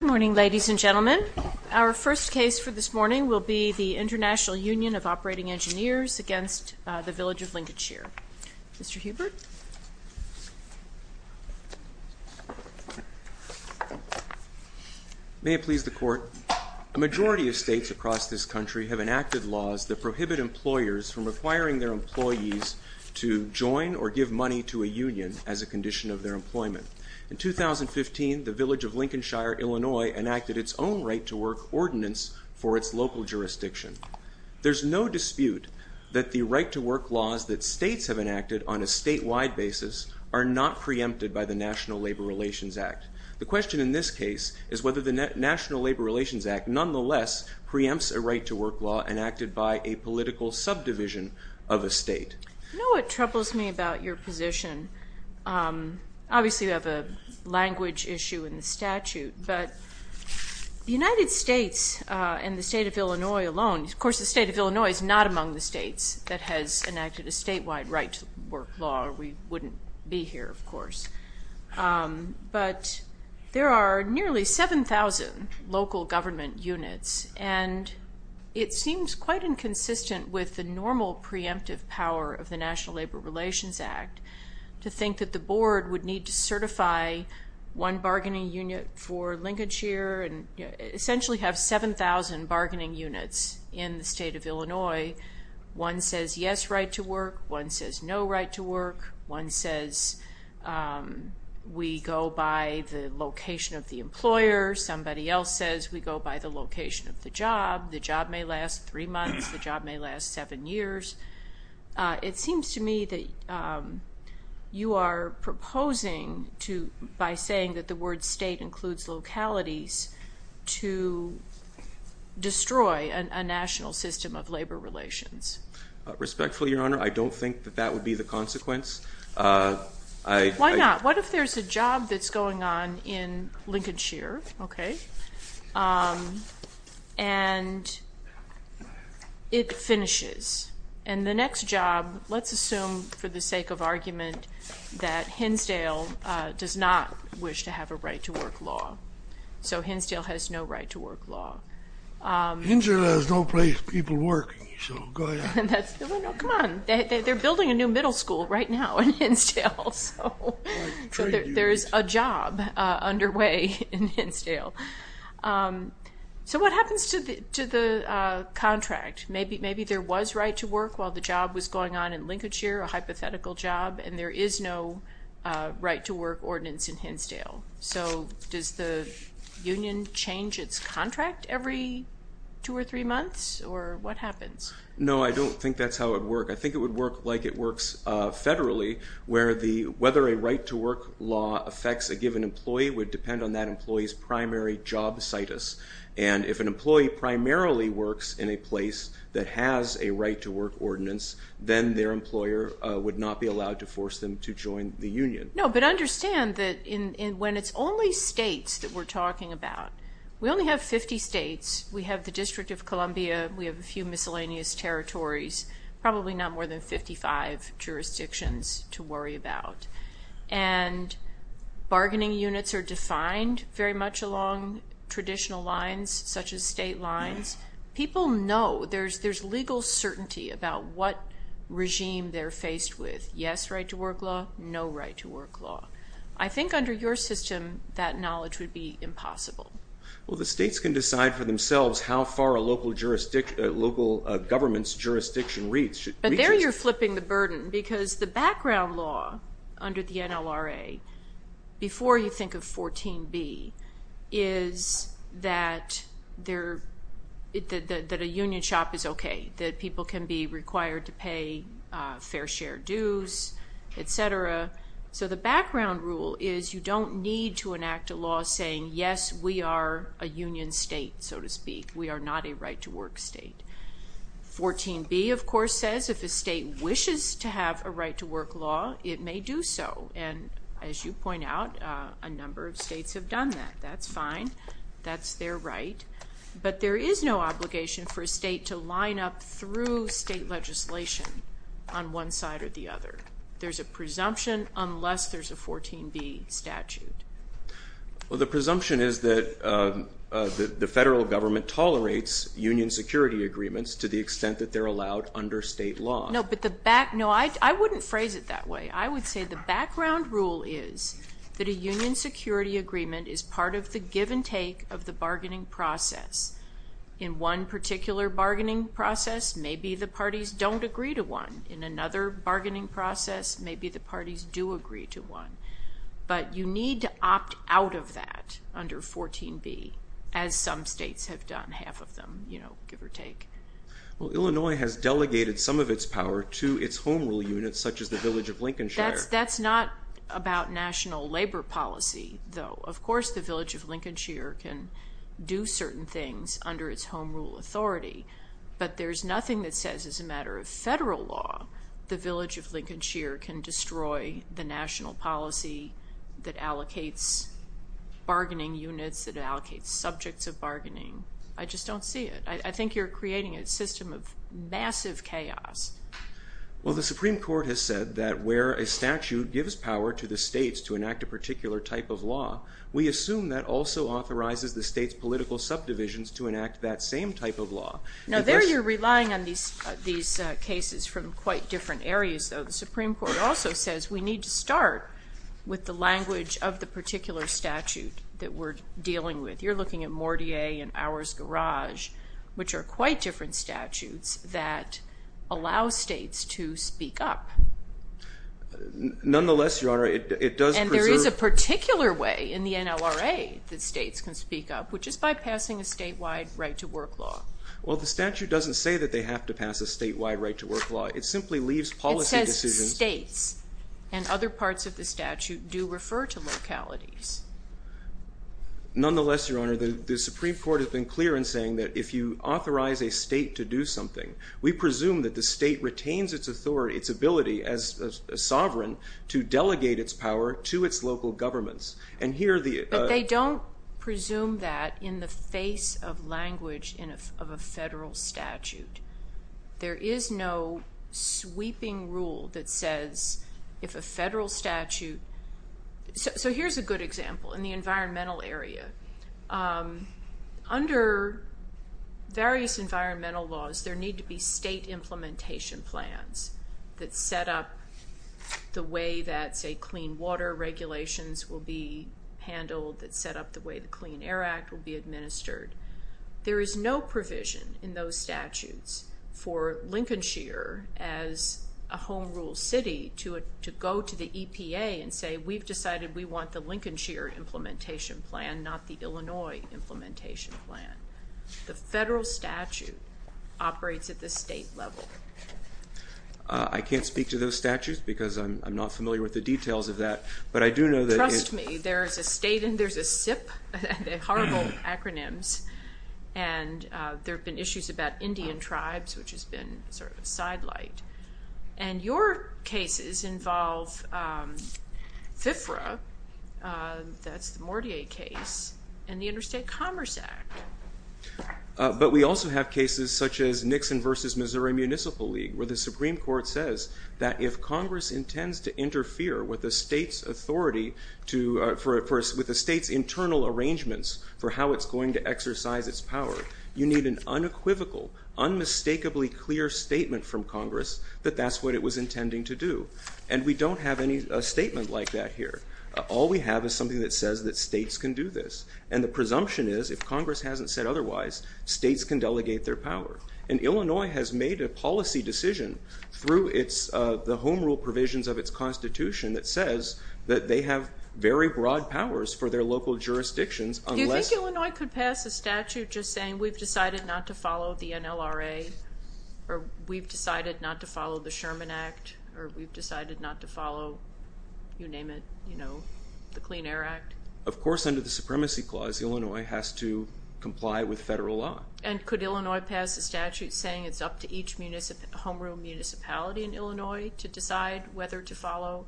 Good morning, ladies and gentlemen. Our first case for this morning will be the International Union of Operating Engineers against the Village of Lincolnshire. Mr. Hubert? May it please the Court. A majority of states across this country have enacted laws that prohibit employers from requiring their employees to join or give money to a union as a condition of their employment. In 2015, the Village of Lincolnshire, Illinois enacted its own right-to-work ordinance for its local jurisdiction. There's no dispute that the right-to-work laws that states have enacted on a statewide basis are not preempted by the National Labor Relations Act. The question in this case is whether the National Labor Relations Act nonetheless preempts a right-to-work law enacted by a political subdivision of a state. You know what troubles me about your position? Obviously, you have a language issue in the statute, but the United States and the state of Illinois alone, of course the state of Illinois is not among the states that has enacted a statewide right-to-work law, or we wouldn't be here, of course. But there are nearly 7,000 local government units, and it seems quite inconsistent with the normal preemptive power of the National Labor Relations Act to think that the board would need to certify one bargaining unit for Lincolnshire and essentially have 7,000 bargaining units in the state of Illinois. One says yes, right-to-work. One says no, right-to-work. One says we go by the location of the employer. Somebody else says we go by the location of the job. The job may last three months. The job may last seven years. It seems to me that you are proposing to, by saying that the word state includes localities, to destroy a national system of labor relations. Respectfully, Your Honor, I don't think that that would be the consequence. Why not? What if there's a job that's going on in Lincolnshire, okay, and it finishes? And the next job, let's assume for the sake of argument that Hinsdale does not wish to have a right-to-work law. So Hinsdale has no right-to-work law. Hinsdale has no place for people working, so go ahead. Come on. They're building a new middle school right now in Hinsdale, so there's a job underway in Hinsdale. So what happens to the contract? Maybe there was right-to-work while the job was going on in Lincolnshire, a hypothetical job, and there is no right-to-work ordinance in Hinsdale. So does the union change its contract every two or three months, or what happens? No, I don't think that's how it would work. I think it would work like it works federally, where whether a right-to-work law affects a given employee would depend on that employee's primary job situs. And if an employee primarily works in a place that has a right-to-work ordinance, then their employer would not be allowed to force them to join the union. No, but understand that when it's only states that we're talking about, we only have 50 states. We have the District of Columbia. We have a few miscellaneous territories, probably not more than 55 jurisdictions to worry about. And bargaining units are defined very much along traditional lines, such as state lines. People know, there's legal certainty about what regime they're faced with. Yes, right-to-work law, no right-to-work law. I think under your system, that knowledge would be impossible. Well, the states can decide for themselves how far a local government's jurisdiction reaches. But there you're flipping the burden, because the background law under the NLRA, before you think of 14b, is that a union shop is okay, that people can be required to pay fair share dues, etc. So the background rule is you don't need to enact a law saying, yes, we are a union state, so to speak. We are not a right-to-work state. 14b, of course, says if a state wishes to have a right-to-work law, it may do so. And as you point out, a number of states have done that. That's fine. That's their right. But there is no obligation for a state to line up through state legislation on one side or the other. There's a presumption unless there's a 14b statute. Well, the presumption is that the federal government tolerates union security agreements to the extent that they're allowed under state law. No, but the back – no, I wouldn't phrase it that way. I would say the background rule is that a union security agreement is part of the give-and-take of the bargaining process. In one particular bargaining process, maybe the parties don't agree to one. In another bargaining process, maybe the parties do agree to one. But you need to opt out of that under 14b, as some states have done, half of them, you know, give or take. Well, Illinois has delegated some of its power to its home rule units, such as the Village of Lincolnshire. That's not about national labor policy, though. Of course, the Village of Lincolnshire can do certain things under its home rule authority. But there's nothing that says as a matter of federal law the Village of Lincolnshire can destroy the national policy that allocates bargaining units, that allocates subjects of bargaining. I just don't see it. I think you're creating a system of massive chaos. Well, the Supreme Court has said that where a statute gives power to the states to enact a particular type of law, we assume that also authorizes the states' political subdivisions to enact that same type of law. Now, there you're relying on these cases from quite different areas, though. The Supreme Court also says we need to start with the language of the particular statute that we're dealing with. You're looking at Mortier and Ours Garage, which are quite different statutes that allow states to speak up. Nonetheless, Your Honor, it does preserve – in a particular way in the NLRA that states can speak up, which is by passing a statewide right-to-work law. Well, the statute doesn't say that they have to pass a statewide right-to-work law. It simply leaves policy decisions – It says states, and other parts of the statute do refer to localities. Nonetheless, Your Honor, the Supreme Court has been clear in saying that if you authorize a state to do something, we presume that the state retains its ability as a sovereign to delegate its power to its local governments. But they don't presume that in the face of language of a federal statute. There is no sweeping rule that says if a federal statute – So here's a good example in the environmental area. Under various environmental laws, there need to be state implementation plans that set up the way that, say, clean water regulations will be handled, that set up the way the Clean Air Act will be administered. There is no provision in those statutes for Lincolnshire as a home rule city to go to the EPA and say, we've decided we want the Lincolnshire implementation plan, not the Illinois implementation plan. The federal statute operates at the state level. I can't speak to those statutes because I'm not familiar with the details of that, but I do know that – Trust me, there's a state and there's a SIP, horrible acronyms, and there have been issues about Indian tribes, which has been sort of a sidelight. And your cases involve FIFRA, that's the Mortier case, and the Interstate Commerce Act. But we also have cases such as Nixon versus Missouri Municipal League, where the Supreme Court says that if Congress intends to interfere with the state's authority, with the state's internal arrangements for how it's going to exercise its power, you need an unequivocal, unmistakably clear statement from Congress that that's what it was intending to do. And we don't have any statement like that here. All we have is something that says that states can do this. And the presumption is, if Congress hasn't said otherwise, states can delegate their power. And Illinois has made a policy decision through the home rule provisions of its Constitution that says that they have very broad powers for their local jurisdictions unless – You're saying we've decided not to follow the NLRA, or we've decided not to follow the Sherman Act, or we've decided not to follow, you name it, the Clean Air Act? Of course, under the Supremacy Clause, Illinois has to comply with federal law. And could Illinois pass a statute saying it's up to each home rule municipality in Illinois to decide whether to follow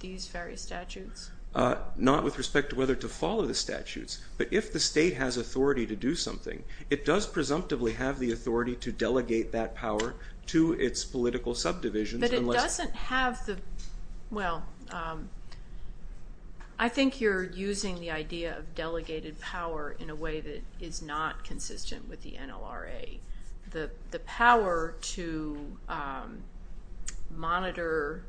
these various statutes? Not with respect to whether to follow the statutes. But if the state has authority to do something, it does presumptively have the authority to delegate that power to its political subdivisions unless – But it doesn't have the – well, I think you're using the idea of delegated power in a way that is not consistent with the NLRA. The power to monitor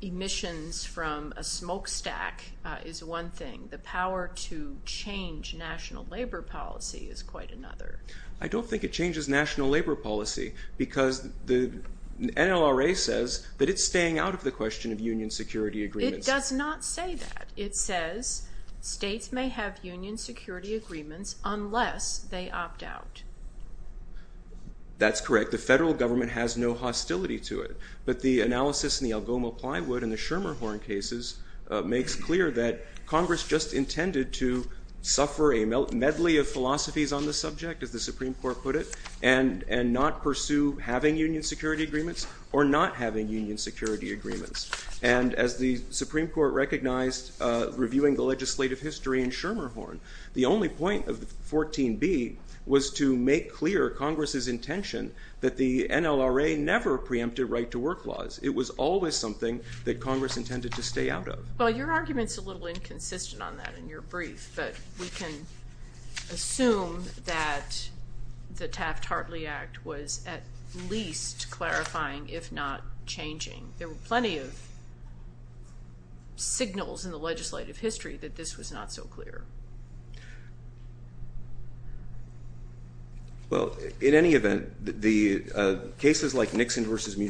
emissions from a smokestack is one thing. The power to change national labor policy is quite another. I don't think it changes national labor policy because the NLRA says that it's staying out of the question of union security agreements. It does not say that. It says states may have union security agreements unless they opt out. That's correct. The federal government has no hostility to it. But the analysis in the Algoma Plywood and the Schermerhorn cases makes clear that Congress just intended to suffer a medley of philosophies on the subject, as the Supreme Court put it, and not pursue having union security agreements or not having union security agreements. And as the Supreme Court recognized reviewing the legislative history in Schermerhorn, the only point of 14b was to make clear Congress's intention that the NLRA never preempted right-to-work laws. It was always something that Congress intended to stay out of. Well, your argument's a little inconsistent on that in your brief, but we can assume that the Taft-Hartley Act was at least clarifying, if not changing. There were plenty of signals in the legislative history that this was not so clear. Well, in any event, the cases like Nixon v.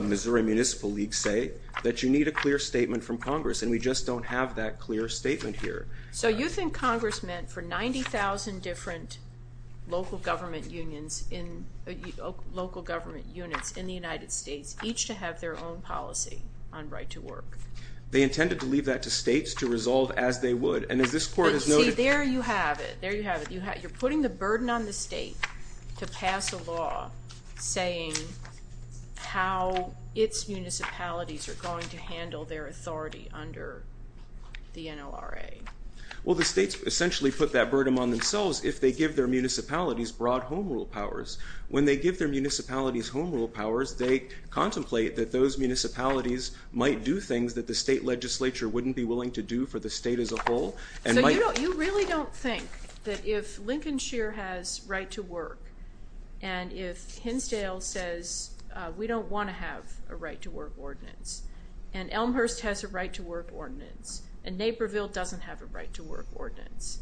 Missouri Municipal League say that you need a clear statement from Congress, and we just don't have that clear statement here. So you think Congress meant for 90,000 different local government units in the United States, each to have their own policy on right-to-work? They intended to leave that to states to resolve as they would, and as this Court has noted— But see, there you have it. There you have it. You're putting the burden on the state to pass a law saying how its municipalities are going to handle their authority under the NLRA. Well, the states essentially put that burden on themselves if they give their municipalities broad home rule powers. When they give their municipalities home rule powers, they contemplate that those municipalities might do things that the state legislature wouldn't be willing to do for the state as a whole. So you really don't think that if Lincoln Shear has right-to-work, and if Hinsdale says we don't want to have a right-to-work ordinance, and Elmhurst has a right-to-work ordinance, and Naperville doesn't have a right-to-work ordinance,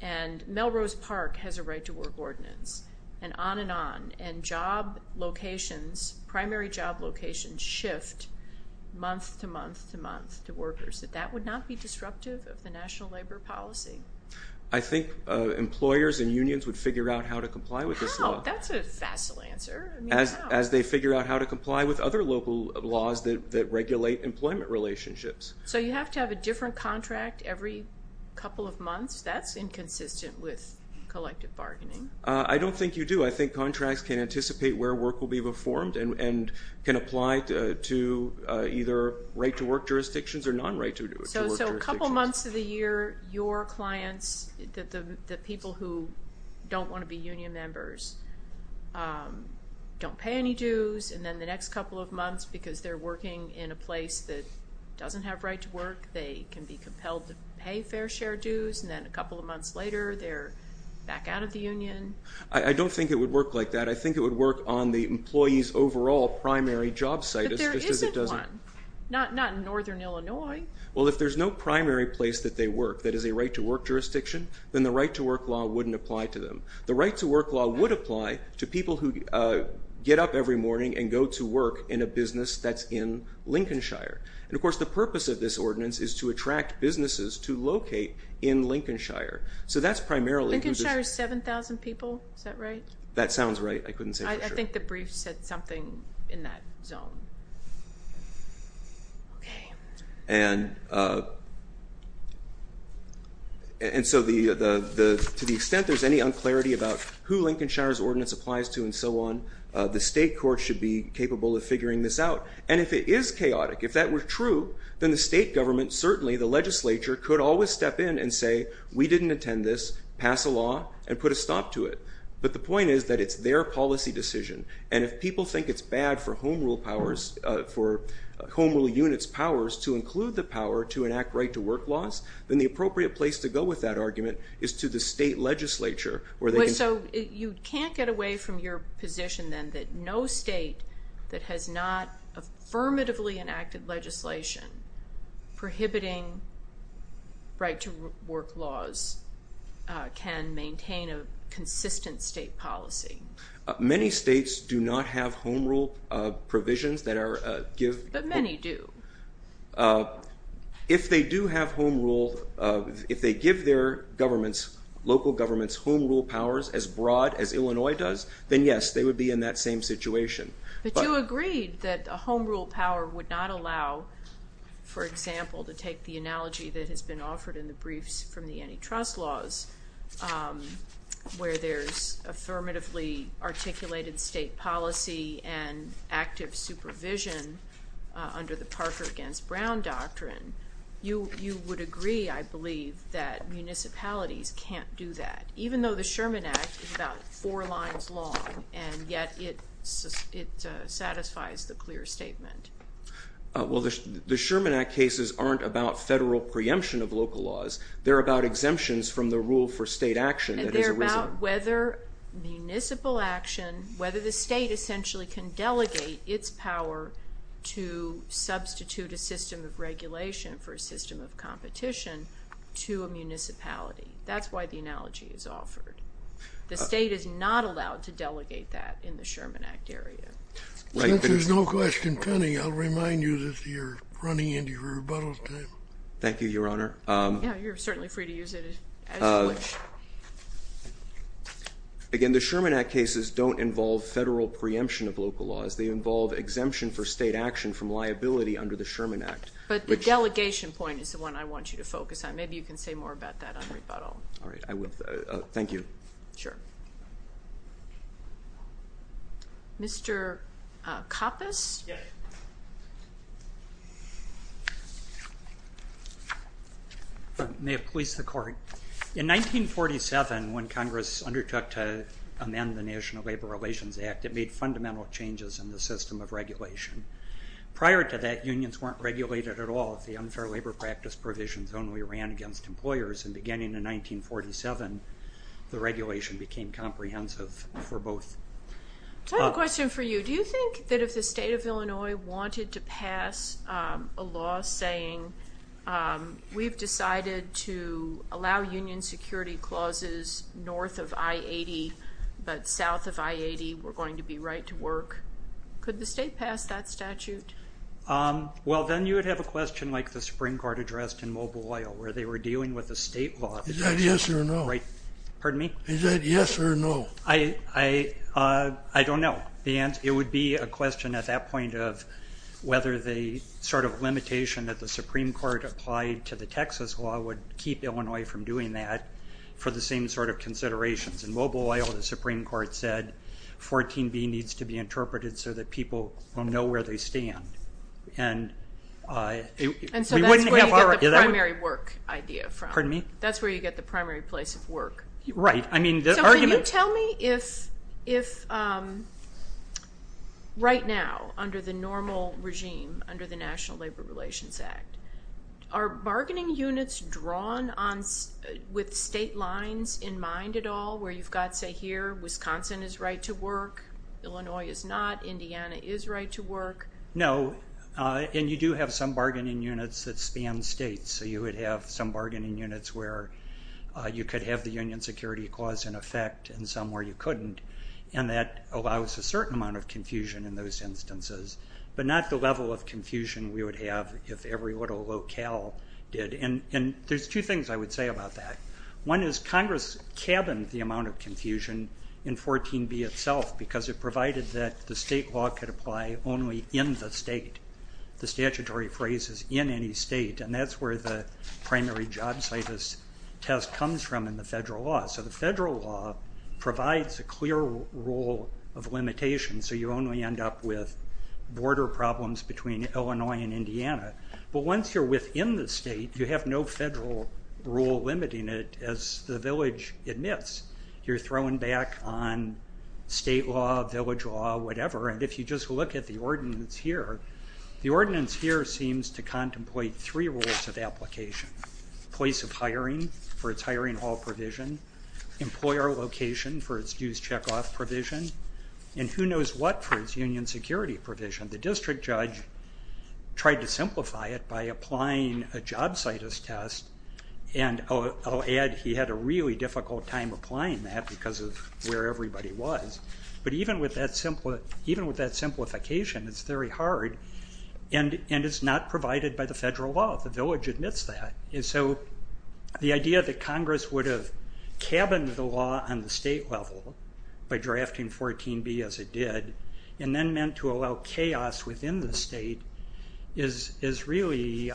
and Melrose Park has a right-to-work ordinance, and on and on, and job locations, primary job locations shift month to month to month to workers, that that would not be disruptive of the national labor policy? I think employers and unions would figure out how to comply with this law. How? That's a facile answer. I mean, how? As they figure out how to comply with other local laws that regulate employment relationships. So you have to have a different contract every couple of months? That's inconsistent with collective bargaining. I don't think you do. I think contracts can anticipate where work will be performed and can apply to either right-to-work jurisdictions or non-right-to-work jurisdictions. So a couple months of the year, your clients, the people who don't want to be union members, don't pay any dues, and then the next couple of months, because they're working in a place that doesn't have right-to-work, they can be compelled to pay fair share dues, and then a couple of months later, they're back out of the union. I don't think it would work like that. I think it would work on the employee's overall primary job situs, just as it doesn't. But there isn't one, not in northern Illinois. Well, if there's no primary place that they work that is a right-to-work jurisdiction, then the right-to-work law wouldn't apply to them. The right-to-work law would apply to people who get up every morning and go to work in a business that's in Lincolnshire. And, of course, the purpose of this ordinance is to attract businesses to locate in Lincolnshire. So that's primarily who the- Lincolnshire is 7,000 people. Is that right? That sounds right. I couldn't say for sure. I think the brief said something in that zone. Okay. And so to the extent there's any unclarity about who Lincolnshire's ordinance applies to and so on, the state court should be capable of figuring this out. And if it is chaotic, if that were true, then the state government, certainly the legislature, could always step in and say, we didn't intend this, pass a law, and put a stop to it. But the point is that it's their policy decision. And if people think it's bad for Home Rule units' powers to include the power to enact right-to-work laws, then the appropriate place to go with that argument is to the state legislature. So you can't get away from your position then that no state that has not affirmatively enacted legislation prohibiting right-to-work laws can maintain a consistent state policy? Many states do not have Home Rule provisions that are- But many do. If they do have Home Rule, if they give their governments, local governments, Home Rule powers as broad as Illinois does, then yes, they would be in that same situation. But you agreed that a Home Rule power would not allow, for example, to take the analogy that has been offered in the briefs from the antitrust laws, where there's affirmatively articulated state policy and active supervision under the Parker v. Brown doctrine. You would agree, I believe, that municipalities can't do that, even though the Sherman Act is about four lines long, and yet it satisfies the clear statement. Well, the Sherman Act cases aren't about federal preemption of local laws. They're about exemptions from the rule for state action. They're about whether municipal action, whether the state essentially can delegate its power to substitute a system of regulation for a system of competition to a municipality. That's why the analogy is offered. The state is not allowed to delegate that in the Sherman Act area. Since there's no question pending, I'll remind you that you're running into your rebuttal time. Thank you, Your Honor. Yeah, you're certainly free to use it as you wish. Again, the Sherman Act cases don't involve federal preemption of local laws. They involve exemption for state action from liability under the Sherman Act. But the delegation point is the one I want you to focus on. Maybe you can say more about that on rebuttal. All right, I will. Thank you. Sure. Mr. Koppus? Yes. May it please the Court. In 1947, when Congress undertook to amend the National Labor Relations Act, it made fundamental changes in the system of regulation. Prior to that, unions weren't regulated at all. The unfair labor practice provisions only ran against employers. And beginning in 1947, the regulation became comprehensive for both. I have a question for you. Do you think that if the state of Illinois wanted to pass a law saying, we've decided to allow union security clauses north of I-80 but south of I-80, we're going to be right to work, could the state pass that statute? Well, then you would have a question like the Supreme Court addressed in Mobile, where they were dealing with the state law. Is that yes or no? Pardon me? Is that yes or no? I don't know. It would be a question at that point of whether the sort of limitation that the Supreme Court applied to the Texas law would keep Illinois from doing that for the same sort of considerations. In Mobile, the Supreme Court said 14B needs to be interpreted so that people will know where they stand. And so that's where you get the primary work idea from. Pardon me? That's where you get the primary place of work. Right. So can you tell me if right now under the normal regime, under the National Labor Relations Act, are bargaining units drawn with state lines in mind at all where you've got, say, here Wisconsin is right to work, Illinois is not, Indiana is right to work? No. And you do have some bargaining units that span states. So you would have some bargaining units where you could have the union security clause in effect and some where you couldn't. And that allows a certain amount of confusion in those instances, but not the level of confusion we would have if every little locale did. And there's two things I would say about that. One is Congress cabined the amount of confusion in 14B itself because it the statutory phrase is in any state, and that's where the primary job status test comes from in the federal law. So the federal law provides a clear rule of limitation, so you only end up with border problems between Illinois and Indiana. But once you're within the state, you have no federal rule limiting it as the village admits. You're throwing back on state law, village law, whatever, and if you just look at the ordinance here, the ordinance here seems to contemplate three rules of application. Place of hiring for its hiring hall provision, employer location for its dues checkoff provision, and who knows what for its union security provision. The district judge tried to simplify it by applying a job status test, and I'll add he had a really difficult time applying that because of where everybody was. But even with that simplification, it's very hard, and it's not provided by the federal law. The village admits that. And so the idea that Congress would have cabined the law on the state level by drafting 14B as it did and then meant to allow chaos within the state is really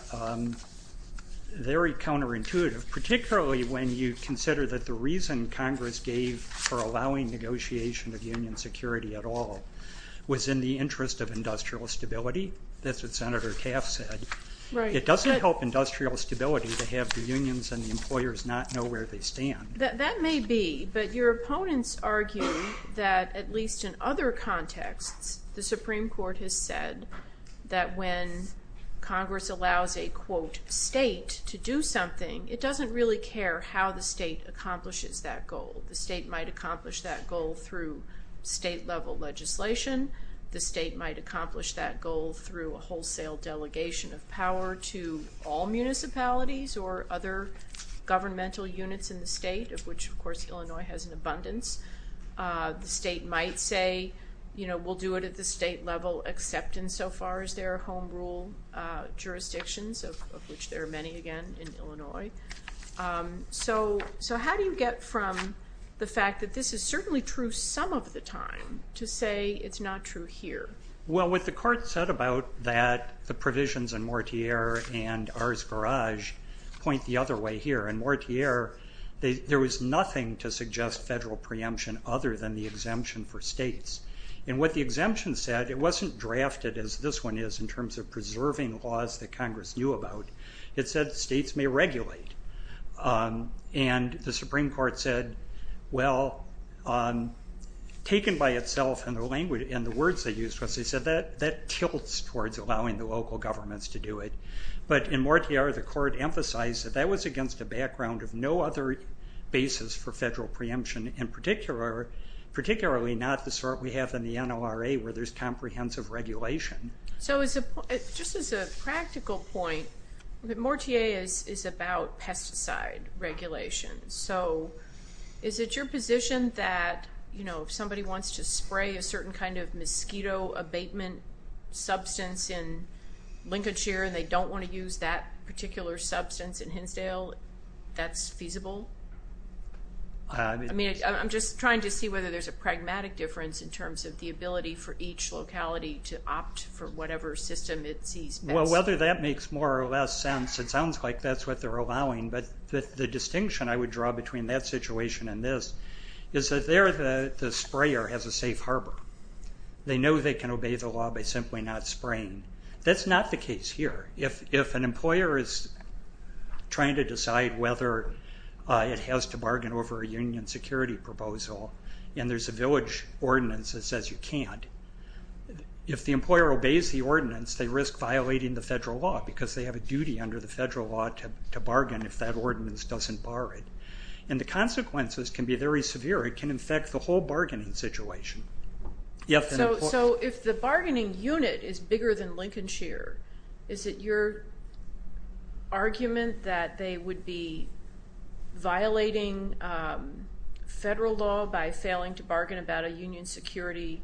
very counterintuitive, particularly when you consider that the reason Congress gave for allowing negotiation of union security at all was in the interest of industrial stability. That's what Senator Taft said. It doesn't help industrial stability to have the unions and the employers not know where they stand. That may be, but your opponents argue that, at least in other contexts, the Supreme Court has said that when Congress allows a, quote, it doesn't really care how the state accomplishes that goal. The state might accomplish that goal through state-level legislation. The state might accomplish that goal through a wholesale delegation of power to all municipalities or other governmental units in the state, of which, of course, Illinois has an abundance. The state might say, you know, we'll do it at the state level except insofar as there are home rule jurisdictions, of which there are many, again, in Illinois. So how do you get from the fact that this is certainly true some of the time to say it's not true here? Well, what the court said about that, the provisions in Mortier and Ars Garage point the other way here. In Mortier, there was nothing to suggest federal preemption other than the exemption for states. And what the exemption said, it wasn't drafted as this one is in terms of preserving laws that Congress knew about. It said states may regulate. And the Supreme Court said, well, taken by itself in the language and the words they used, they said that tilts towards allowing the local governments to do it. But in Mortier, the court emphasized that that was against a background of no other basis for federal preemption, in particular, particularly not the sort we have in the NLRA where there's comprehensive regulation. So just as a practical point, Mortier is about pesticide regulation. So is it your position that, you know, if somebody wants to spray a certain kind of mosquito abatement substance in Lincolnshire and they don't want to use that particular substance in Hinsdale, that's feasible? I mean, I'm just trying to see whether there's a pragmatic difference in terms of the ability for each locality to opt for whatever system it sees best. Well, whether that makes more or less sense, it sounds like that's what they're allowing. But the distinction I would draw between that situation and this is that there the sprayer has a safe harbor. They know they can obey the law by simply not spraying. That's not the case here. If an employer is trying to decide whether it has to bargain over a union security proposal and there's a village ordinance that says you can't, if the employer obeys the ordinance, they risk violating the federal law because they have a duty under the federal law to bargain if that ordinance doesn't bar it. And the consequences can be very severe. It can affect the whole bargaining situation. So if the bargaining unit is bigger than Lincolnshire, is it your argument that they would be violating federal law by failing to bargain about a union security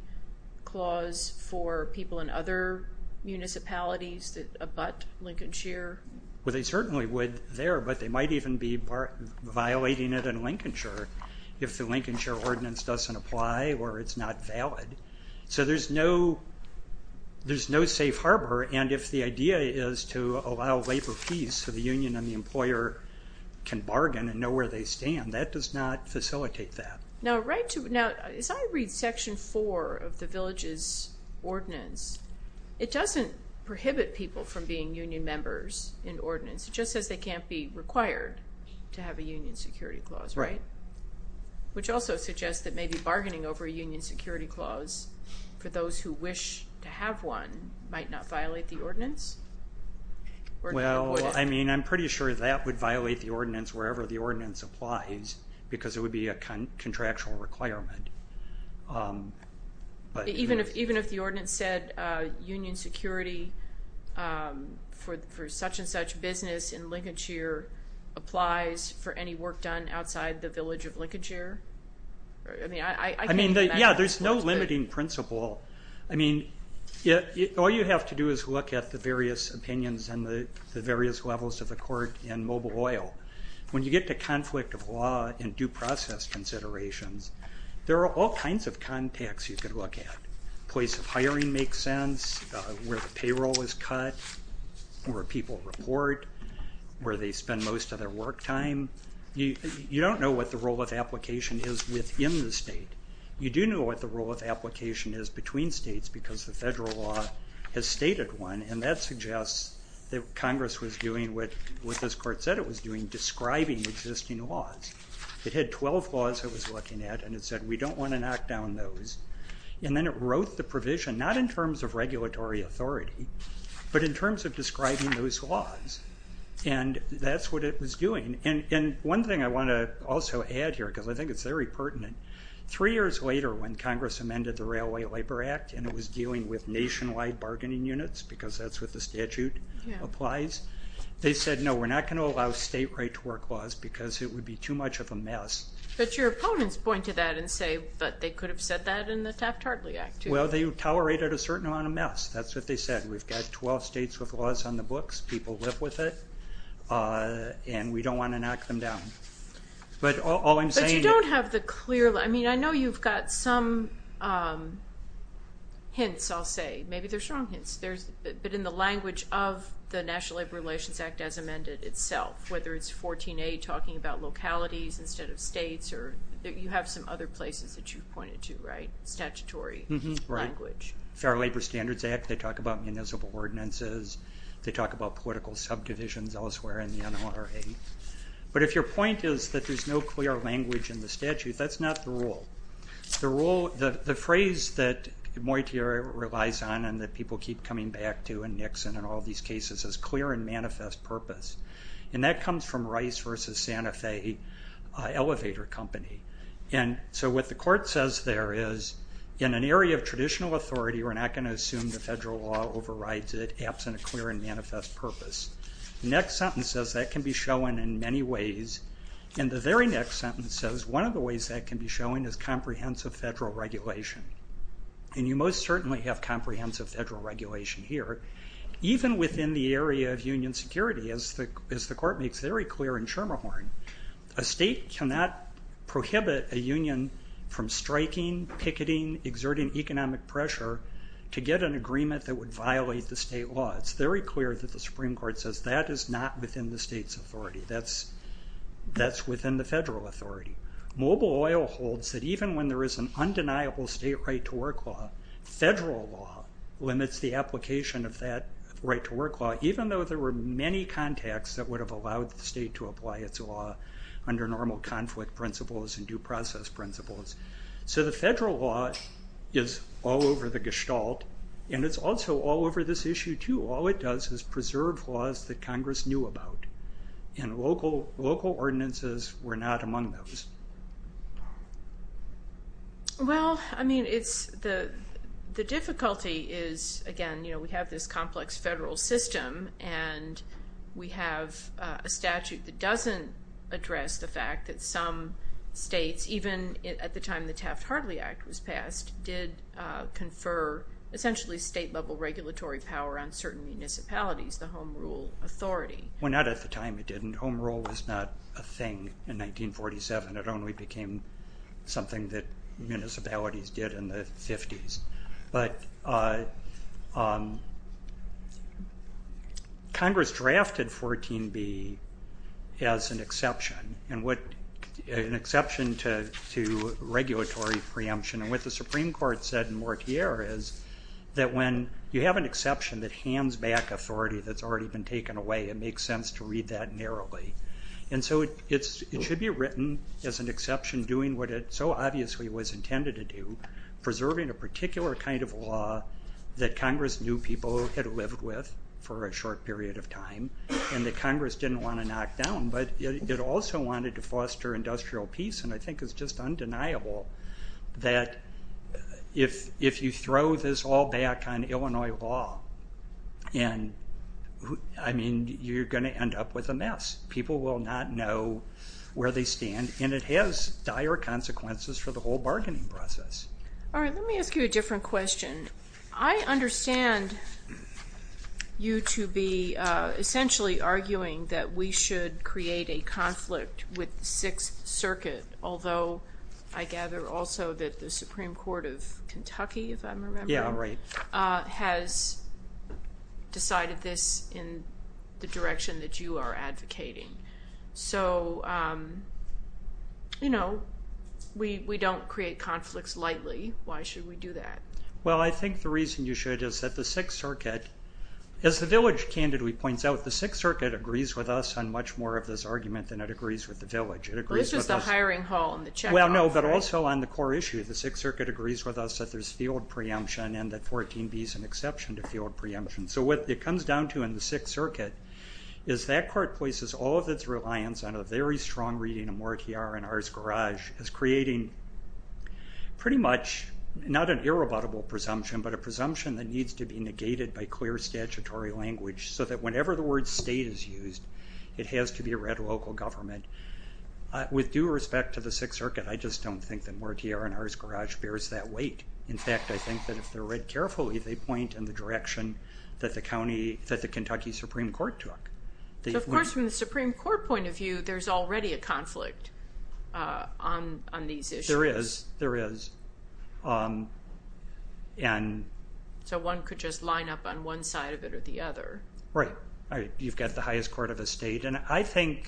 clause for people in other municipalities that abut Lincolnshire? Well, they certainly would there, but they might even be violating it in Lincolnshire if the Lincolnshire ordinance doesn't apply or it's not valid. So there's no safe harbor. And if the idea is to allow labor fees so the union and the employer can bargain and know where they stand, that does not facilitate that. Now, as I read Section 4 of the village's ordinance, it doesn't prohibit people from being union members in ordinance. It just says they can't be required to have a union security clause, right? Right. Which also suggests that maybe bargaining over a union security clause for those who wish to have one might not violate the ordinance? Well, I mean, I'm pretty sure that would violate the ordinance wherever the ordinance applies because it would be a contractual requirement. Even if the ordinance said union security for such and such business in Lincolnshire applies for any work done outside the village of Lincolnshire? I mean, yeah, there's no limiting principle. I mean, all you have to do is look at the various opinions and the various levels of the court in mobile oil. When you get to conflict of law and due process considerations, there are all kinds of contacts you could look at. Place of hiring makes sense, where the payroll is cut, where people report, where they spend most of their work time. You don't know what the role of application is within the state. You do know what the role of application is between states because the federal law has stated one, and that suggests that Congress was doing what this court said it was doing, describing existing laws. It had 12 laws it was looking at, and it said, we don't want to knock down those. And then it wrote the provision not in terms of regulatory authority but in terms of describing those laws, and that's what it was doing. And one thing I want to also add here, because I think it's very pertinent, three years later when Congress amended the Railway Labor Act and it was dealing with nationwide bargaining units, because that's what the statute applies, they said, no, we're not going to allow state right-to-work laws because it would be too much of a mess. But your opponents point to that and say, but they could have said that in the Taft-Hartley Act too. Well, they tolerated a certain amount of mess. That's what they said. We've got 12 states with laws on the books. People live with it. And we don't want to knock them down. But all I'm saying is... But you don't have the clear... I mean, I know you've got some hints, I'll say. Maybe they're strong hints. But in the language of the National Labor Relations Act as amended itself, whether it's 14A talking about localities instead of states, or you have some other places that you've pointed to, right? Statutory language. Fair Labor Standards Act, they talk about municipal ordinances. They talk about political subdivisions elsewhere in the NRA. But if your point is that there's no clear language in the statute, that's not the rule. The phrase that Moitra relies on and that people keep coming back to in Nixon and all these cases is clear and manifest purpose. And that comes from Rice v. Santa Fe Elevator Company. And so what the court says there is, in an area of traditional authority, we're not going to assume the federal law overrides it absent a clear and manifest purpose. The next sentence says that can be shown in many ways. And the very next sentence says one of the ways that can be shown is comprehensive federal regulation. And you most certainly have comprehensive federal regulation here. Even within the area of union security, as the court makes very clear in Schermerhorn, a state cannot prohibit a union from striking, picketing, exerting economic pressure to get an agreement that would violate the state law. It's very clear that the Supreme Court says that is not within the state's authority. That's within the federal authority. Mobile oil holds that even when there is an undeniable state right-to-work law, federal law limits the application of that right-to-work law, even though there were many contacts that would have allowed the state to apply its law under normal conflict principles and due process principles. So the federal law is all over the gestalt, and it's also all over this issue too. All it does is preserve laws that Congress knew about, and local ordinances were not among those. Well, I mean, the difficulty is, again, we have this complex federal system, and we have a statute that doesn't address the fact that some states, even at the time the Taft-Hartley Act was passed, did confer essentially state-level regulatory power on certain municipalities, the home rule authority. Well, not at the time it didn't. Home rule was not a thing in 1947. It only became something that municipalities did in the 50s. But Congress drafted 14b as an exception, an exception to regulatory preemption. And what the Supreme Court said in Mortier is that when you have an exception that hands back authority that's already been taken away, it makes sense to read that narrowly. And so it should be written as an exception doing what it so obviously was intended to do, preserving a particular kind of law that Congress knew people had lived with for a short period of time and that Congress didn't want to knock down. But it also wanted to foster industrial peace, and I think it's just undeniable that if you throw this all back on Illinois law, I mean, you're going to end up with a mess. People will not know where they stand, and it has dire consequences for the whole bargaining process. All right, let me ask you a different question. I understand you to be essentially arguing that we should create a conflict with the Sixth Circuit, although I gather also that the Supreme Court of Kentucky, if I'm remembering, has decided this in the direction that you are advocating. So, you know, we don't create conflicts lightly. Why should we do that? Well, I think the reason you should is that the Sixth Circuit, as the village candidly points out, the Sixth Circuit agrees with us on much more of this argument than it agrees with the village. It agrees with us... Well, it's just the hiring hall and the checkout, right? Well, no, but also on the core issue, the Sixth Circuit agrees with us that there's field preemption and that 14b is an exception to field preemption. So what it comes down to in the Sixth Circuit is that court places all of its reliance on a very strong reading of Moore TR and Ars Garage as creating pretty much not an irrebuttable presumption, but a presumption that needs to be negated by clear statutory language so that whenever the word state is used, it has to be a red local government. With due respect to the Sixth Circuit, I just don't think that Moore TR and Ars Garage bears that weight. In fact, I think that if they're read carefully, they point in the direction that the Kentucky Supreme Court took. So, of course, from the Supreme Court point of view, there's already a conflict on these issues. There is, there is. So one could just line up on one side of it or the other. Right. You've got the highest court of a state, and I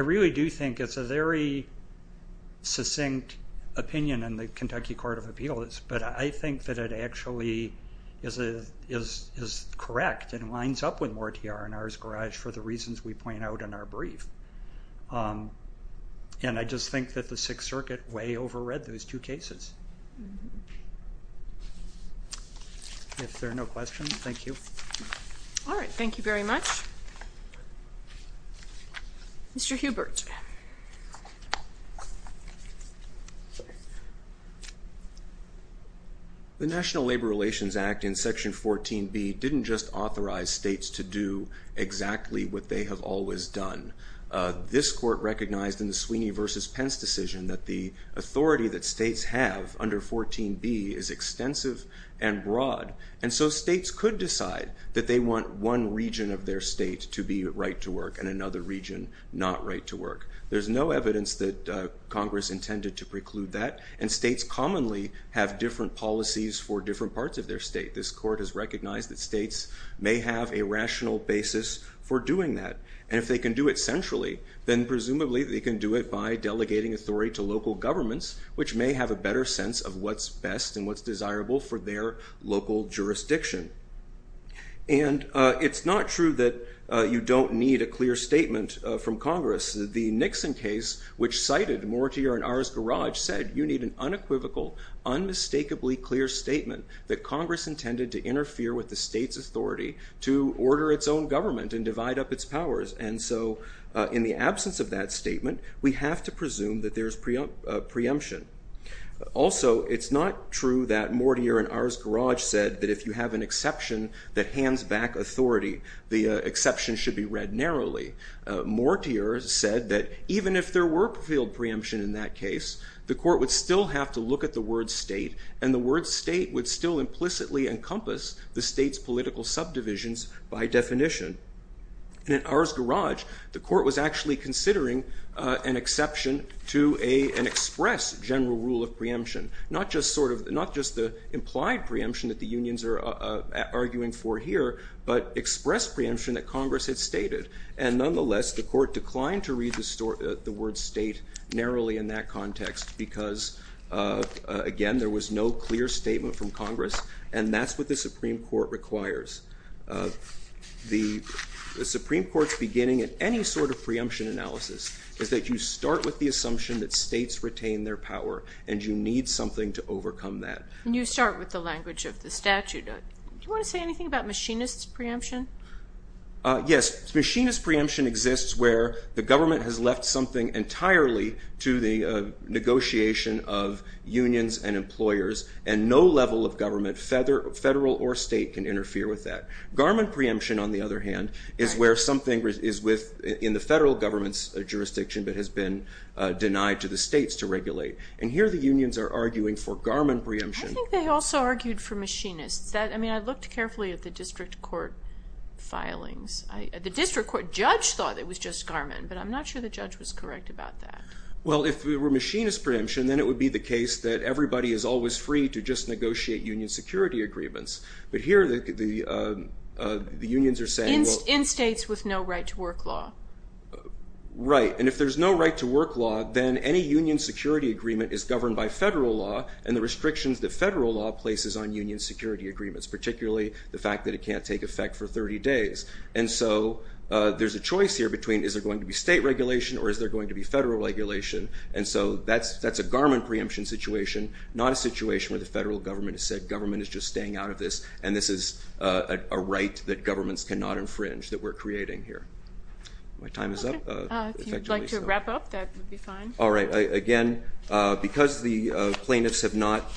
really do think it's a very succinct opinion in the Kentucky Court of Appeals, but I think that it actually is correct and lines up with Moore TR and Ars Garage for the reasons we point out in our brief. And I just think that the Sixth Circuit way overread those two cases. If there are no questions, thank you. All right. Thank you very much. Mr. Hubert. The National Labor Relations Act in Section 14B didn't just authorize states to do exactly what they have always done. This court recognized in the Sweeney v. Pence decision that the authority that states have under 14B is extensive and broad, and so states could decide that they want one region of their state to be right to work and another region not right to work. There's no evidence that Congress intended to preclude that, and states commonly have different policies for different parts of their state. This court has recognized that states may have a rational basis for doing that, and if they can do it centrally, then presumably they can do it by delegating authority to local governments, which may have a better sense of what's best and what's desirable for their local jurisdiction. And it's not true that you don't need a clear statement from Congress. The Nixon case, which cited Moore TR and Ars Garage, said you need an unequivocal, unmistakably clear statement that Congress intended to interfere with the state's authority to order its own government and divide up its powers. And so in the absence of that statement, we have to presume that there's preemption. Also, it's not true that Moore TR and Ars Garage said that if you have an exception that hands back authority, the exception should be read narrowly. Moore TR said that even if there were preemption in that case, the court would still have to look at the word state, and the word state would still implicitly encompass the state's political subdivisions by definition. And in Ars Garage, the court was actually considering an exception to an express general rule of preemption, not just the implied preemption that the unions are arguing for here, but express preemption that Congress had stated. And nonetheless, the court declined to read the word state narrowly in that context because, again, there was no clear statement from Congress, and that's what the Supreme Court requires. The Supreme Court's beginning in any sort of preemption analysis is that you start with the assumption that states retain their power, and you need something to overcome that. And you start with the language of the statute. Do you want to say anything about machinist preemption? Yes. Machinist preemption exists where the government has left something entirely to the negotiation of unions and employers, and no level of government, federal or state, can interfere with that. Garmin preemption, on the other hand, is where something is in the federal government's jurisdiction but has been denied to the states to regulate. And here the unions are arguing for Garmin preemption. I think they also argued for machinists. I mean, I looked carefully at the district court filings. The district court judge thought it was just Garmin, but I'm not sure the judge was correct about that. Well, if it were machinist preemption, then it would be the case that everybody is always free to just negotiate union security agreements. But here the unions are saying, well. In states with no right to work law. Right. And if there's no right to work law, then any union security agreement is governed by federal law and the restrictions that federal law places on union security agreements, particularly the fact that it can't take effect for 30 days. And so there's a choice here between is there going to be state regulation or is there going to be federal regulation. And so that's a Garmin preemption situation, not a situation where the federal government has said government is just staying out of this and this is a right that governments cannot infringe that we're creating here. My time is up. If you'd like to wrap up, that would be fine. All right. Again, because the plaintiffs have not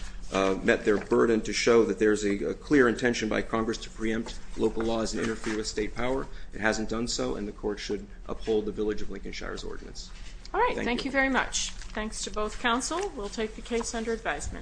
met their burden to show that there's a clear intention by Congress to preempt local laws and interfere with state power, it hasn't done so, and the court should uphold the village of Lincolnshire's ordinance. All right. Thank you very much. Thanks to both counsel. We'll take the case under advisement.